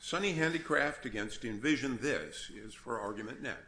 Sunny Handicraft v. Envision This! is for argument next.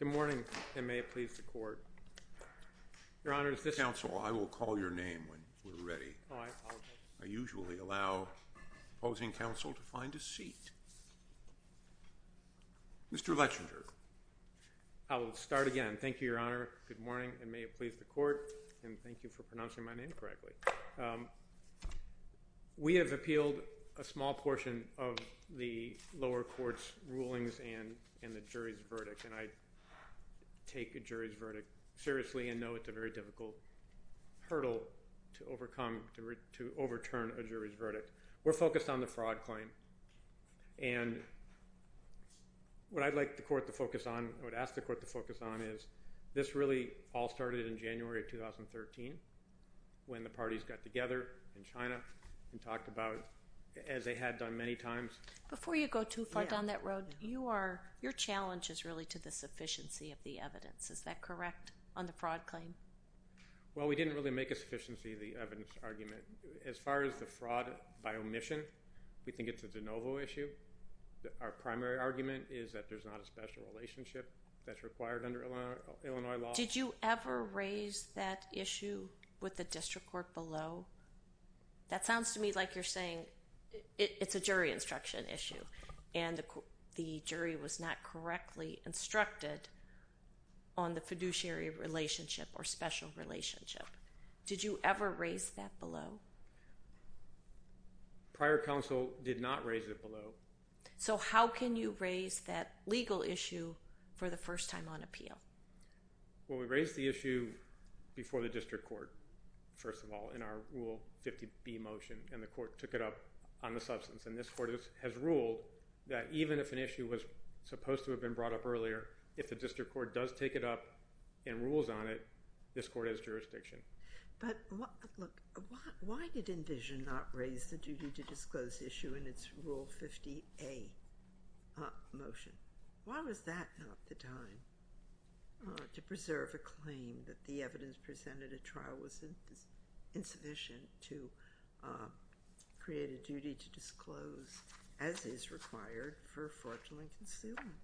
Good morning and may it please the Court. Your Honor, is this... Counsel, I will call your name when we're ready. I usually allow opposing counsel to find a seat. Mr. Lechinger. I'll start again. Thank you, Your Honor. Good morning and may it please the Court. And thank you for pronouncing my name correctly. We have appealed a small portion of the lower court's rulings and the jury's verdict. And I take a jury's verdict seriously and know it's a very difficult hurdle to overcome, to overturn a jury's verdict. We're focused on the fraud claim. And what I'd like the Court to focus on, what I would ask the Court to focus on, is this really all started in January of 2013 when the parties got together in China and talked about, as they had done many times... Before you go too far down that road, your challenge is really to the sufficiency of the evidence. Is that correct on the fraud claim? Well, we didn't really make a sufficiency of the evidence argument. As far as the fraud by omission, we think it's a de novo issue. Our primary argument is that there's not a special relationship that's required under Illinois law. Did you ever raise that issue with the district court below? That sounds to me like you're saying it's a jury instruction issue and the jury was not correctly instructed on the fiduciary relationship or special relationship. Did you ever raise that below? Prior counsel did not raise it below. So how can you raise that legal issue for the first time on appeal? Well, we raised the issue before the district court, first of all, in our Rule 50B motion. And the court took it up on the substance. And this court has ruled that even if an issue was supposed to have been brought up earlier, if the district court does take it up and rules on it, this court has jurisdiction. But look, why did Envision not raise the duty to disclose issue in its Rule 50A motion? Why was that not the time to preserve a claim that the evidence presented at trial was insufficient to create a duty to disclose as is required for fraudulent concealment?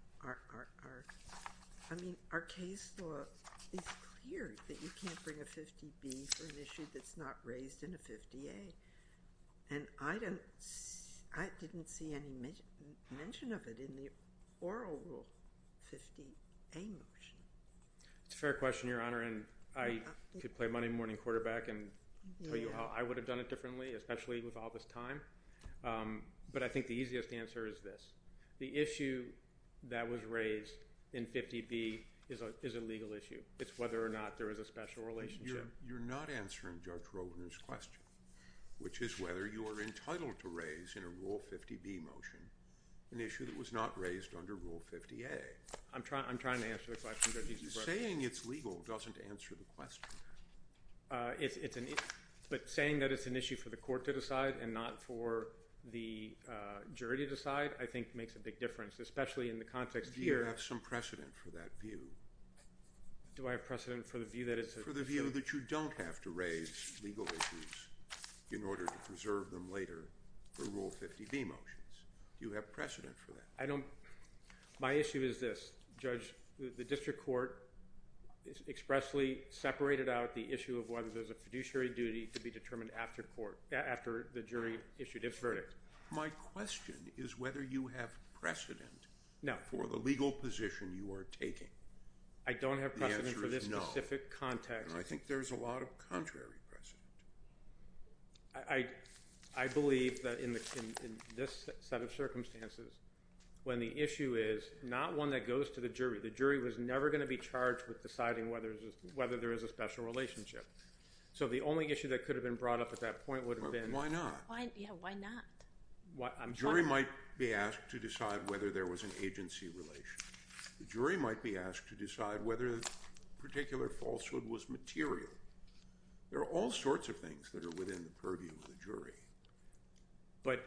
I mean, our case law is clear that you can't bring a 50B for an issue that's not raised in a 50A. And I didn't see any mention of it in the oral Rule 50A motion. It's a fair question, Your Honor. And I could play Monday morning quarterback and tell you how I would have done it differently, especially with all this time. But I think the easiest answer is this. The issue that was raised in 50B is a legal issue. It's whether or not there is a special relationship. You're not answering Judge Rovner's question, which is whether you are entitled to raise in a Rule 50B motion an issue that was not raised under Rule 50A. I'm trying to answer the question. Saying it's legal doesn't answer the question. But saying that it's an issue for the court to decide and not for the jury to decide, I think, makes a big difference, especially in the context here. Do you have some precedent for that view? Do I have precedent for the view that it's a... For the view that you don't have to raise legal issues in order to preserve them later for Rule 50B motions. Do you have precedent for that? I don't... My issue is this. Judge, the district court expressly separated out the issue of whether there's a fiduciary duty to be determined after the jury issued its verdict. My question is whether you have precedent for the legal position you are taking. The answer is no. I don't have precedent for this specific context. I think there's a lot of contrary precedent. I believe that in this set of circumstances, when the issue is not one that goes to the jury, the jury was never going to be charged with deciding whether there is a special relationship. So the only issue that could have been brought up at that point would have been... Why not? Yeah, why not? The jury might be asked to decide whether there was an agency relation. The jury might be asked to decide whether a particular falsehood was material. There are all sorts of things that are within the purview of the jury.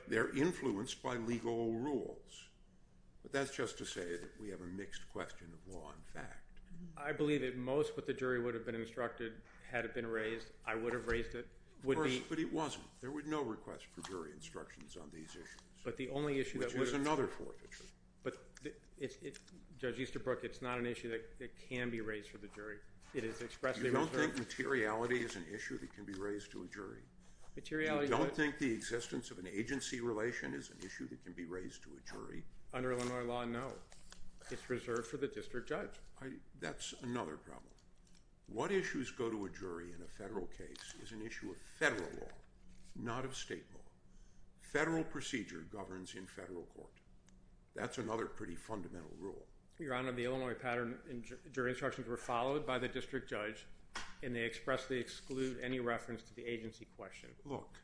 They're influenced by legal rules. But that's just to say that we have a mixed question of law and fact. I believe that most of what the jury would have been instructed, had it been raised, I would have raised it, would be... Of course, but it wasn't. There were no requests for jury instructions on these issues. But the only issue that... You don't think materiality is an issue that can be raised to a jury? Materiality... You don't think the existence of an agency relation is an issue that can be raised to a jury? Under Illinois law, no. It's reserved for the district judge. That's another problem. What issues go to a jury in a federal case is an issue of federal law, not of state law. Federal procedure governs in federal court. That's another pretty fundamental rule. Your Honor, the Illinois pattern jury instructions were followed by the district judge, and they expressly exclude any reference to the agency question. Look,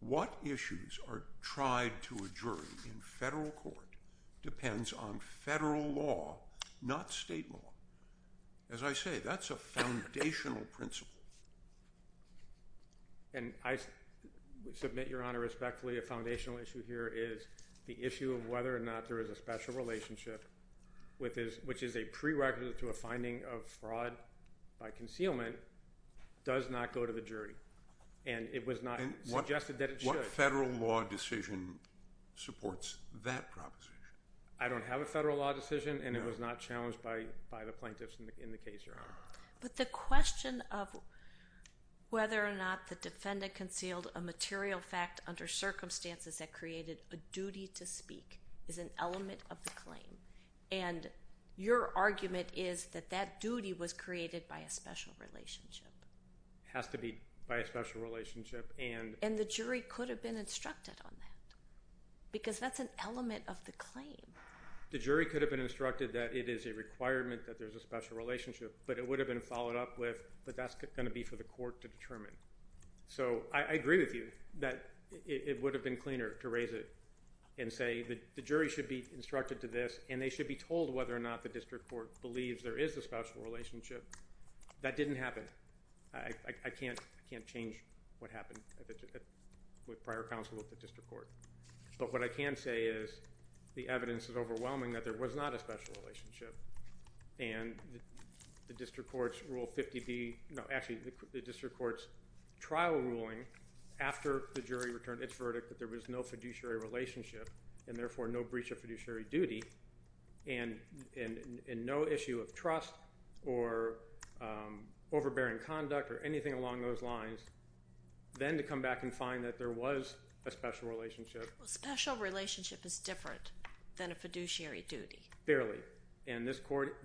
what issues are tried to a jury in federal court depends on federal law, not state law. As I say, that's a foundational principle. And I submit, Your Honor, respectfully, a special relationship, which is a prerequisite to a finding of fraud by concealment, does not go to the jury. And it was not suggested that it should. What federal law decision supports that proposition? I don't have a federal law decision, and it was not challenged by the plaintiffs in the case, Your Honor. But the question of whether or not the defendant concealed a material fact under circumstances that created a duty to speak is an element of the claim. And your argument is that that duty was created by a special relationship. It has to be by a special relationship. And the jury could have been instructed on that, because that's an element of the claim. The jury could have been instructed that it is a requirement that there's a special relationship, but it would have been followed up with, but that's going to be for the court to determine. So I agree with you that it would have been cleaner to raise it and say that the jury should be instructed to this, and they should be told whether or not the district court believes there is a special relationship. That didn't happen. I can't change what happened with prior counsel at the district court. But what I can say is the evidence is overwhelming that there was not a special relationship. And the district court's rule 50B, no, actually the district court's trial ruling after the jury returned its verdict that there was no fiduciary relationship, and therefore no breach of fiduciary duty, and no issue of trust or overbearing conduct or anything along those lines, then to come back and find that there was a special relationship. Well, a special relationship is different than a fiduciary duty. Barely. And this court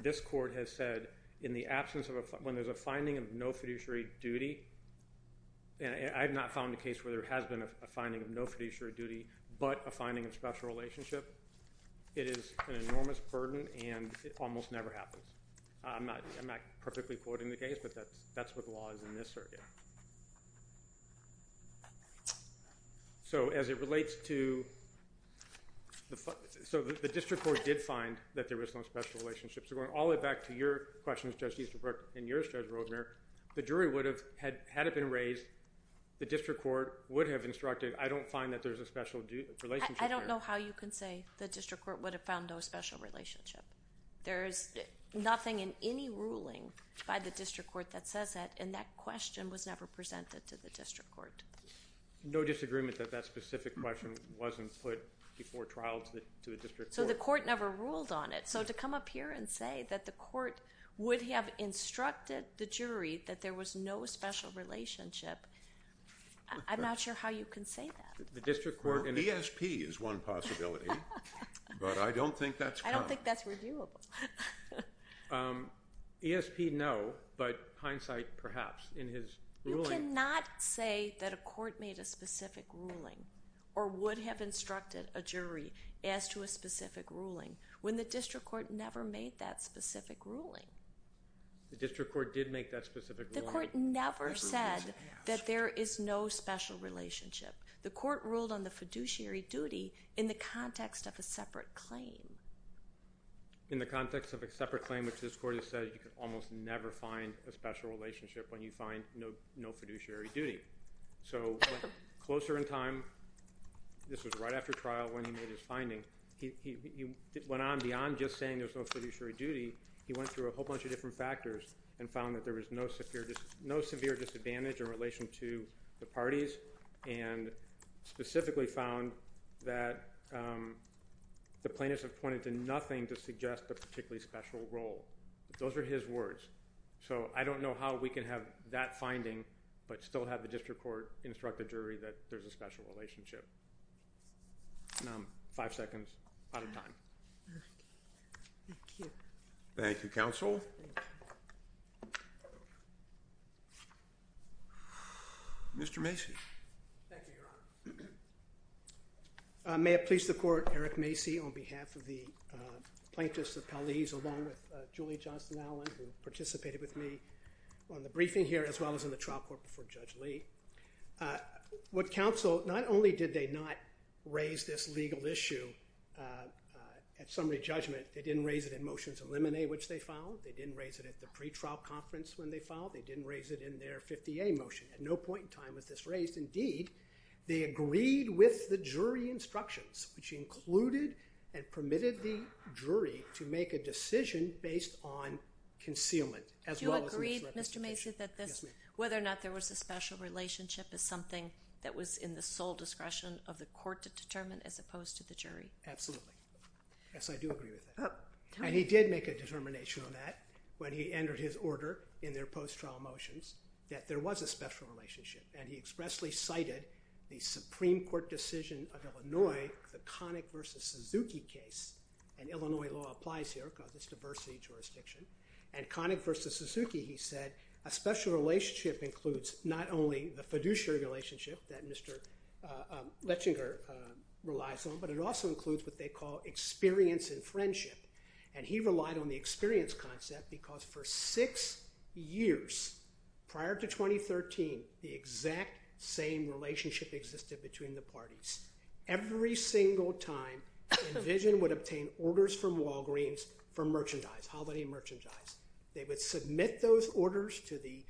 has said in the absence of a, when there's a finding of no fiduciary duty, and I have not found a case where there has been a finding of no fiduciary duty, but a finding of special relationship, it is an enormous burden and it almost never happens. I'm not perfectly quoting the case, but that's what the law is in this circuit. So as it relates to, so the district court did find that there was no special relationship. So going all the way back to your questions, Judge Easterbrook, and yours, Judge Roedmeier, the jury would have, had it been raised, the district court would have instructed, I don't find that there's a special relationship there. I don't know how you can say the district court would have found no special relationship. There is nothing in any ruling by the district court that says that, and that question was never presented to the district court. No disagreement that that specific question wasn't put before trial to the district court. So the court never ruled on it. So to come up here and say that the court would have instructed the jury that there was no special relationship, I'm not sure how you can say that. Well, ESP is one possibility, but I don't think that's common. I don't think that's reviewable. ESP, no, but hindsight perhaps in his ruling. You cannot say that a court made a specific ruling or would have instructed a jury as to a specific ruling when the district court never made that specific ruling. The district court did make that specific ruling. The court never said that there is no special relationship. The court ruled on the fiduciary duty in the context of a separate claim. In the context of a separate claim, which this court has said you can almost never find a special relationship when you find no fiduciary duty. So closer in time, this was right after trial when he made his finding, he went on beyond just saying there's no fiduciary duty. He went through a whole bunch of different factors and found that there was no severe disadvantage in relation to the parties and specifically found that the plaintiffs have pointed to nothing to suggest a particularly special role. Those are his words. So I don't know how we can have that finding but still have the district court instruct the jury that there's a special relationship. Five seconds, out of time. Thank you. Thank you, counsel. Mr. Macy. Thank you, Your Honor. May it please the court, Eric Macy on behalf of the plaintiffs of Paliz along with Julie Johnston-Allen who participated with me on the briefing here as well as in the trial court before Judge Lee. What counsel, not only did they not raise this legal issue at summary judgment, they didn't raise it in motions of limine which they filed. They didn't raise it at the pretrial conference when they filed. They didn't raise it in their 50A motion. At no point in time was this raised. Indeed, they agreed with the jury instructions which included and permitted the jury to make a decision based on concealment as well as misrepresentation. Do you agree, Mr. Macy, that this, whether or not there was a special relationship is something that was in the sole discretion of the court to determine as opposed to the jury? Absolutely. Yes, I do agree with that. And he did make a determination on that when he entered his order in their post-trial motions that there was a special relationship. And he expressly cited the Supreme Court decision of Illinois, the Connick v. Suzuki case. And Illinois law applies here because it's diversity jurisdiction. And Connick v. Suzuki, he said, a special relationship includes not only the fiduciary relationship that Mr. Lechinger relies on, but it also includes what they call experience and friendship. And he relied on the experience concept because for six years prior to 2013, the exact same relationship existed between the parties. Every single time Envision would obtain orders from Walgreens for merchandise, holiday merchandise. They would submit those orders to the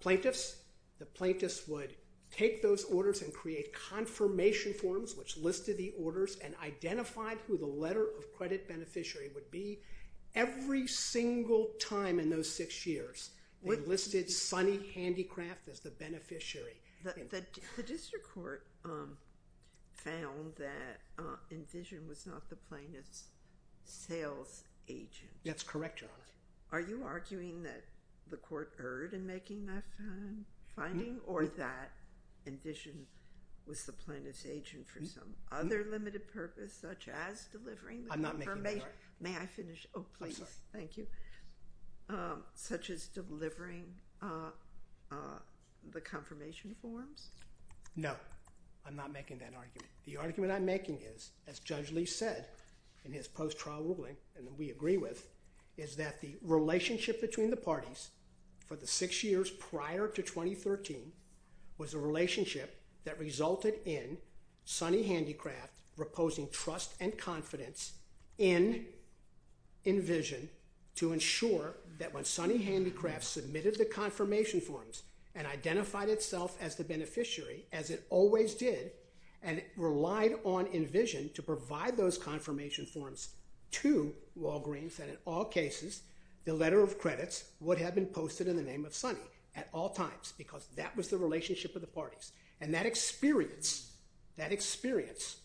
plaintiffs. The plaintiffs would take those orders and create confirmation forms which listed the would be every single time in those six years. They listed Sonny Handicraft as the beneficiary. The district court found that Envision was not the plaintiff's sales agent. That's correct, Your Honor. Are you arguing that the court erred in making that finding or that Envision was the plaintiff's agent for some other limited purpose such as delivering the commercial? I'm not making that argument. May I finish? Oh, please. I'm sorry. Thank you. Such as delivering the confirmation forms? No, I'm not making that argument. The argument I'm making is, as Judge Lee said in his post-trial ruling and that we agree with, is that the relationship between the parties for the six years prior to 2013 was a relationship that resulted in Sonny Handicraft proposing trust and confidence in Envision to ensure that when Sonny Handicraft submitted the confirmation forms and identified itself as the beneficiary, as it always did, and relied on Envision to provide those confirmation forms to Walgreens, that in all cases the letter of credits would have been posted in the name of Sonny at all times because that was the relationship of the parties. And that experience, that experience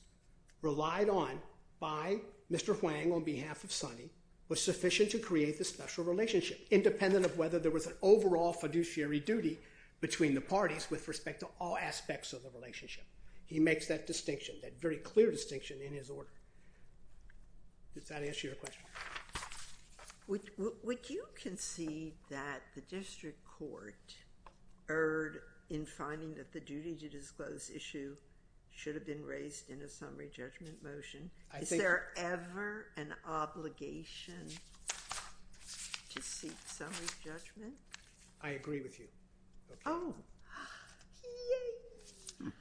relied on by Mr. Huang on behalf of Sonny was sufficient to create the special relationship independent of whether there was an overall fiduciary duty between the parties with respect to all aspects of the relationship. He makes that distinction, that very clear distinction in his order. Does that answer your question? Would you concede that the district court erred in finding that the duty to disclose issue should have been raised in a summary judgment motion? Is there ever an obligation to seek summary judgment? I agree with you. Oh, yay!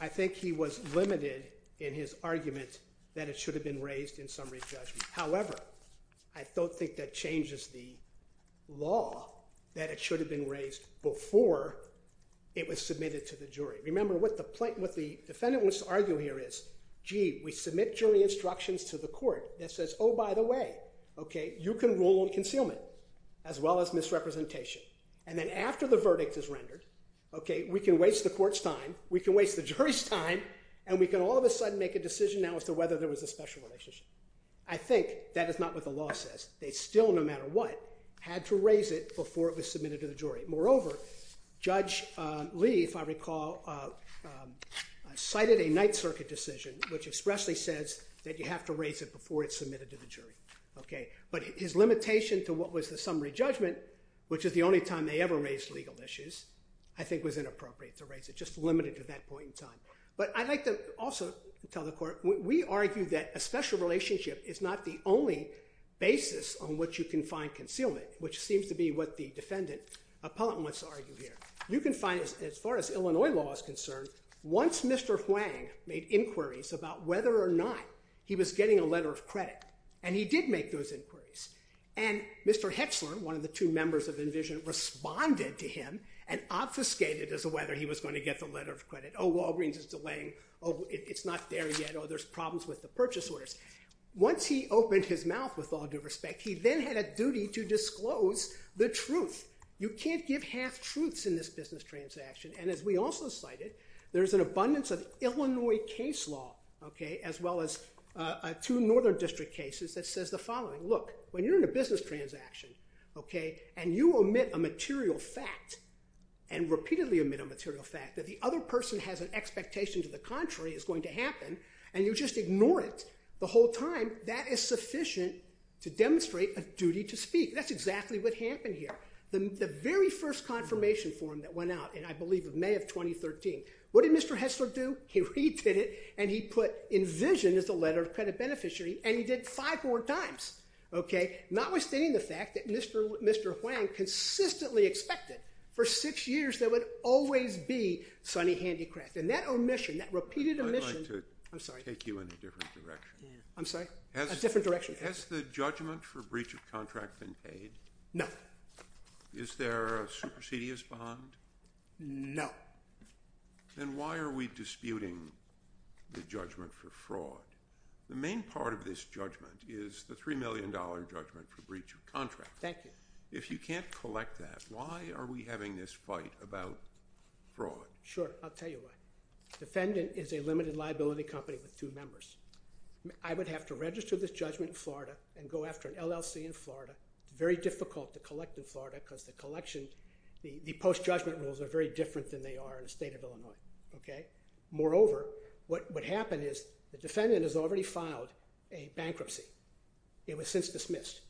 I think he was limited in his argument that it should have been raised in summary judgment. However, I don't think that changes the law that it should have been raised before it was submitted to the jury. Remember, what the defendant wants to argue here is, gee, we submit jury instructions to the court that says, oh, by the way, okay, you can rule on concealment as well as misrepresentation. And then after the verdict is rendered, okay, we can waste the court's time, we can waste the jury's time, and we can all of a sudden make a decision now as to whether there was a special relationship. I think that is not what the law says. They still, no matter what, had to raise it before it was submitted to the jury. Moreover, Judge Lee, if I recall, cited a Ninth Circuit decision which expressly says that you have to raise it before it's submitted to the jury. Okay. But his limitation to what was the summary judgment, which is the only time they ever raised legal issues, I think was inappropriate to raise it, just limited to that point in time. But I'd like to also tell the court, we argue that a special relationship is not the only basis on which you can find concealment, which seems to be what the defendant, Appellant, wants to argue here. You can find, as far as Illinois law is concerned, once Mr. Huang made inquiries about whether or not he was getting a letter of credit, and he did make those inquiries, and Mr. Hetzler, one of the two members of Envision, responded to him and obfuscated as to whether he was going to get the letter of credit. Oh, Walgreens is delaying. Oh, it's not there yet. Oh, there's problems with the purchase orders. Once he opened his mouth, with all due respect, he then had a duty to disclose the truth. You can't give half-truths in this business transaction. And as we also cited, there's an abundance of Illinois case law, okay, as well as two Northern District cases that says the following. Look, when you're in a business transaction, okay, and you omit a material fact and repeatedly omit a material fact, that the other person has an expectation to the contrary is going to happen, and you just ignore it the whole time, that is sufficient to demonstrate a duty to speak. That's exactly what happened here. The very first confirmation form that went out in, I believe, May of 2013. What did Mr. Hetzler do? He redid it, and he put Envision as the letter of credit beneficiary, and he did it five more times, okay, notwithstanding the fact that Mr. Huang consistently expected for six years there would always be sunny handicraft. And that omission, that repeated omission. I'd like to take you in a different direction. I'm sorry? A different direction. Has the judgment for breach of contract been paid? No. Is there a supersedious bond? No. Then why are we disputing the judgment for fraud? The main part of this judgment is the $3 million judgment for breach of contract. Thank you. If you can't collect that, why are we having this fight about fraud? Sure. I'll tell you why. Defendant is a limited liability company with two members. I would have to register this judgment in Florida and go after an LLC in Florida. It's very difficult to collect in Florida because the collection, the post-judgment rules are very different than they are in the state of Illinois, okay? Moreover, what would happen is the defendant has already filed a bankruptcy. It was since dismissed.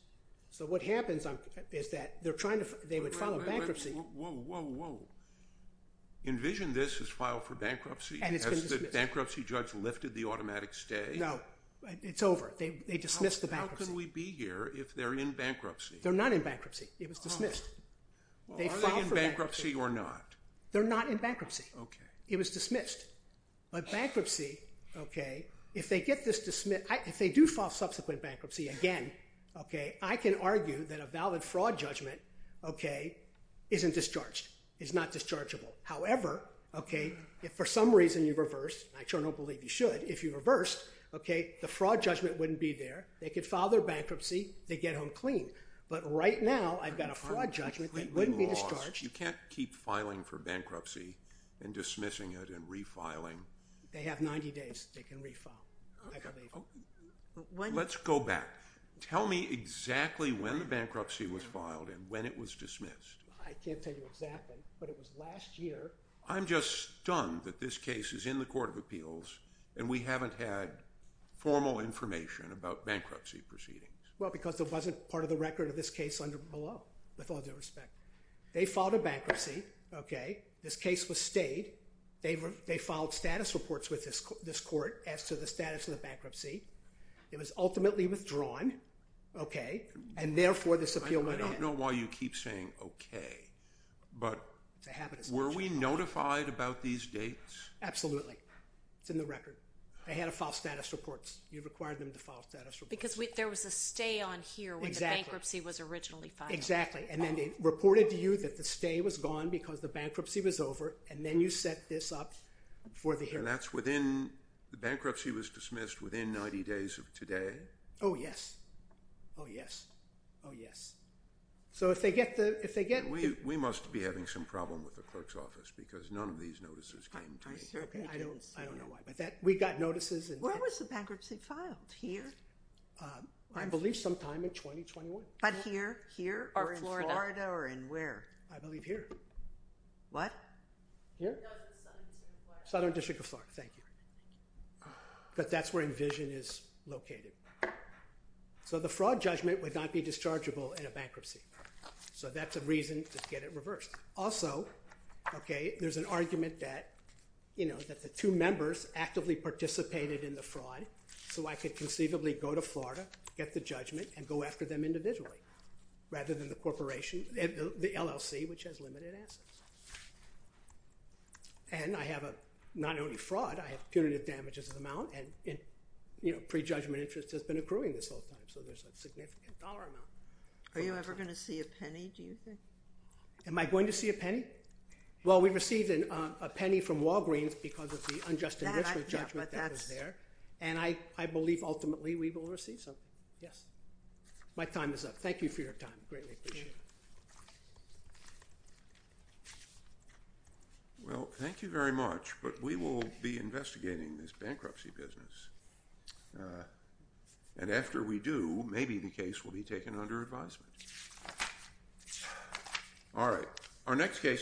So what happens is that they're trying to, they would file a bankruptcy. Whoa, whoa, whoa. Envision this is filed for bankruptcy. And it's been dismissed. Has the bankruptcy judge lifted the automatic stay? No. It's over. They dismissed the bankruptcy. How can we be here if they're in bankruptcy? They're not in bankruptcy. It was dismissed. Are they in bankruptcy or not? They're not in bankruptcy. Okay. It was dismissed. But bankruptcy, okay, if they get this dismissed, if they do file subsequent bankruptcy again, okay, I can argue that a valid fraud judgment, okay, isn't discharged, is not dischargeable. However, okay, if for some reason you reversed, and I sure don't believe you should, if you reversed, okay, the fraud judgment wouldn't be there. They could file their bankruptcy. They'd get home clean. But right now I've got a fraud judgment that wouldn't be discharged. You can't keep filing for bankruptcy and dismissing it and refiling. They have 90 days. They can refile, I believe. Let's go back. Tell me exactly when the bankruptcy was filed and when it was dismissed. I can't tell you exactly, but it was last year. I'm just stunned that this case is in the Court of Appeals and we haven't had formal information about bankruptcy proceedings. Well, because it wasn't part of the record of this case below, with all due respect. They filed a bankruptcy, okay. This case was stayed. They filed status reports with this court as to the status of the bankruptcy. I don't know why you keep saying okay, but were we notified about these dates? Absolutely. It's in the record. They had to file status reports. You required them to file status reports. Because there was a stay on here when the bankruptcy was originally filed. Exactly. And then they reported to you that the stay was gone because the bankruptcy was over, and then you set this up for the hearing. And that's within—the bankruptcy was dismissed within 90 days of today? Oh, yes. Oh, yes. Oh, yes. So if they get the— We must be having some problem with the clerk's office because none of these notices came to me. I don't know why, but we got notices. Where was the bankruptcy filed? Here? I believe sometime in 2021. But here, here, or in Florida, or in where? I believe here. What? Here? No, it was the Southern District of Florida. Southern District of Florida. Thank you. But that's where Envision is located. So the fraud judgment would not be dischargeable in a bankruptcy. So that's a reason to get it reversed. Also, okay, there's an argument that, you know, that the two members actively participated in the fraud, so I could conceivably go to Florida, get the judgment, and go after them individually, rather than the corporation—the LLC, which has limited assets. And I have a—not only fraud, I have punitive damages amount, and, you know, prejudgment interest has been accruing this whole time, so there's a significant dollar amount. Are you ever going to see a penny, do you think? Am I going to see a penny? Well, we received a penny from Walgreens because of the unjust investment judgment that was there, and I believe ultimately we will receive something. Yes. My time is up. Thank you for your time. I greatly appreciate it. Well, thank you very much, but we will be investigating this bankruptcy business, and after we do, maybe the case will be taken under advisement. All right.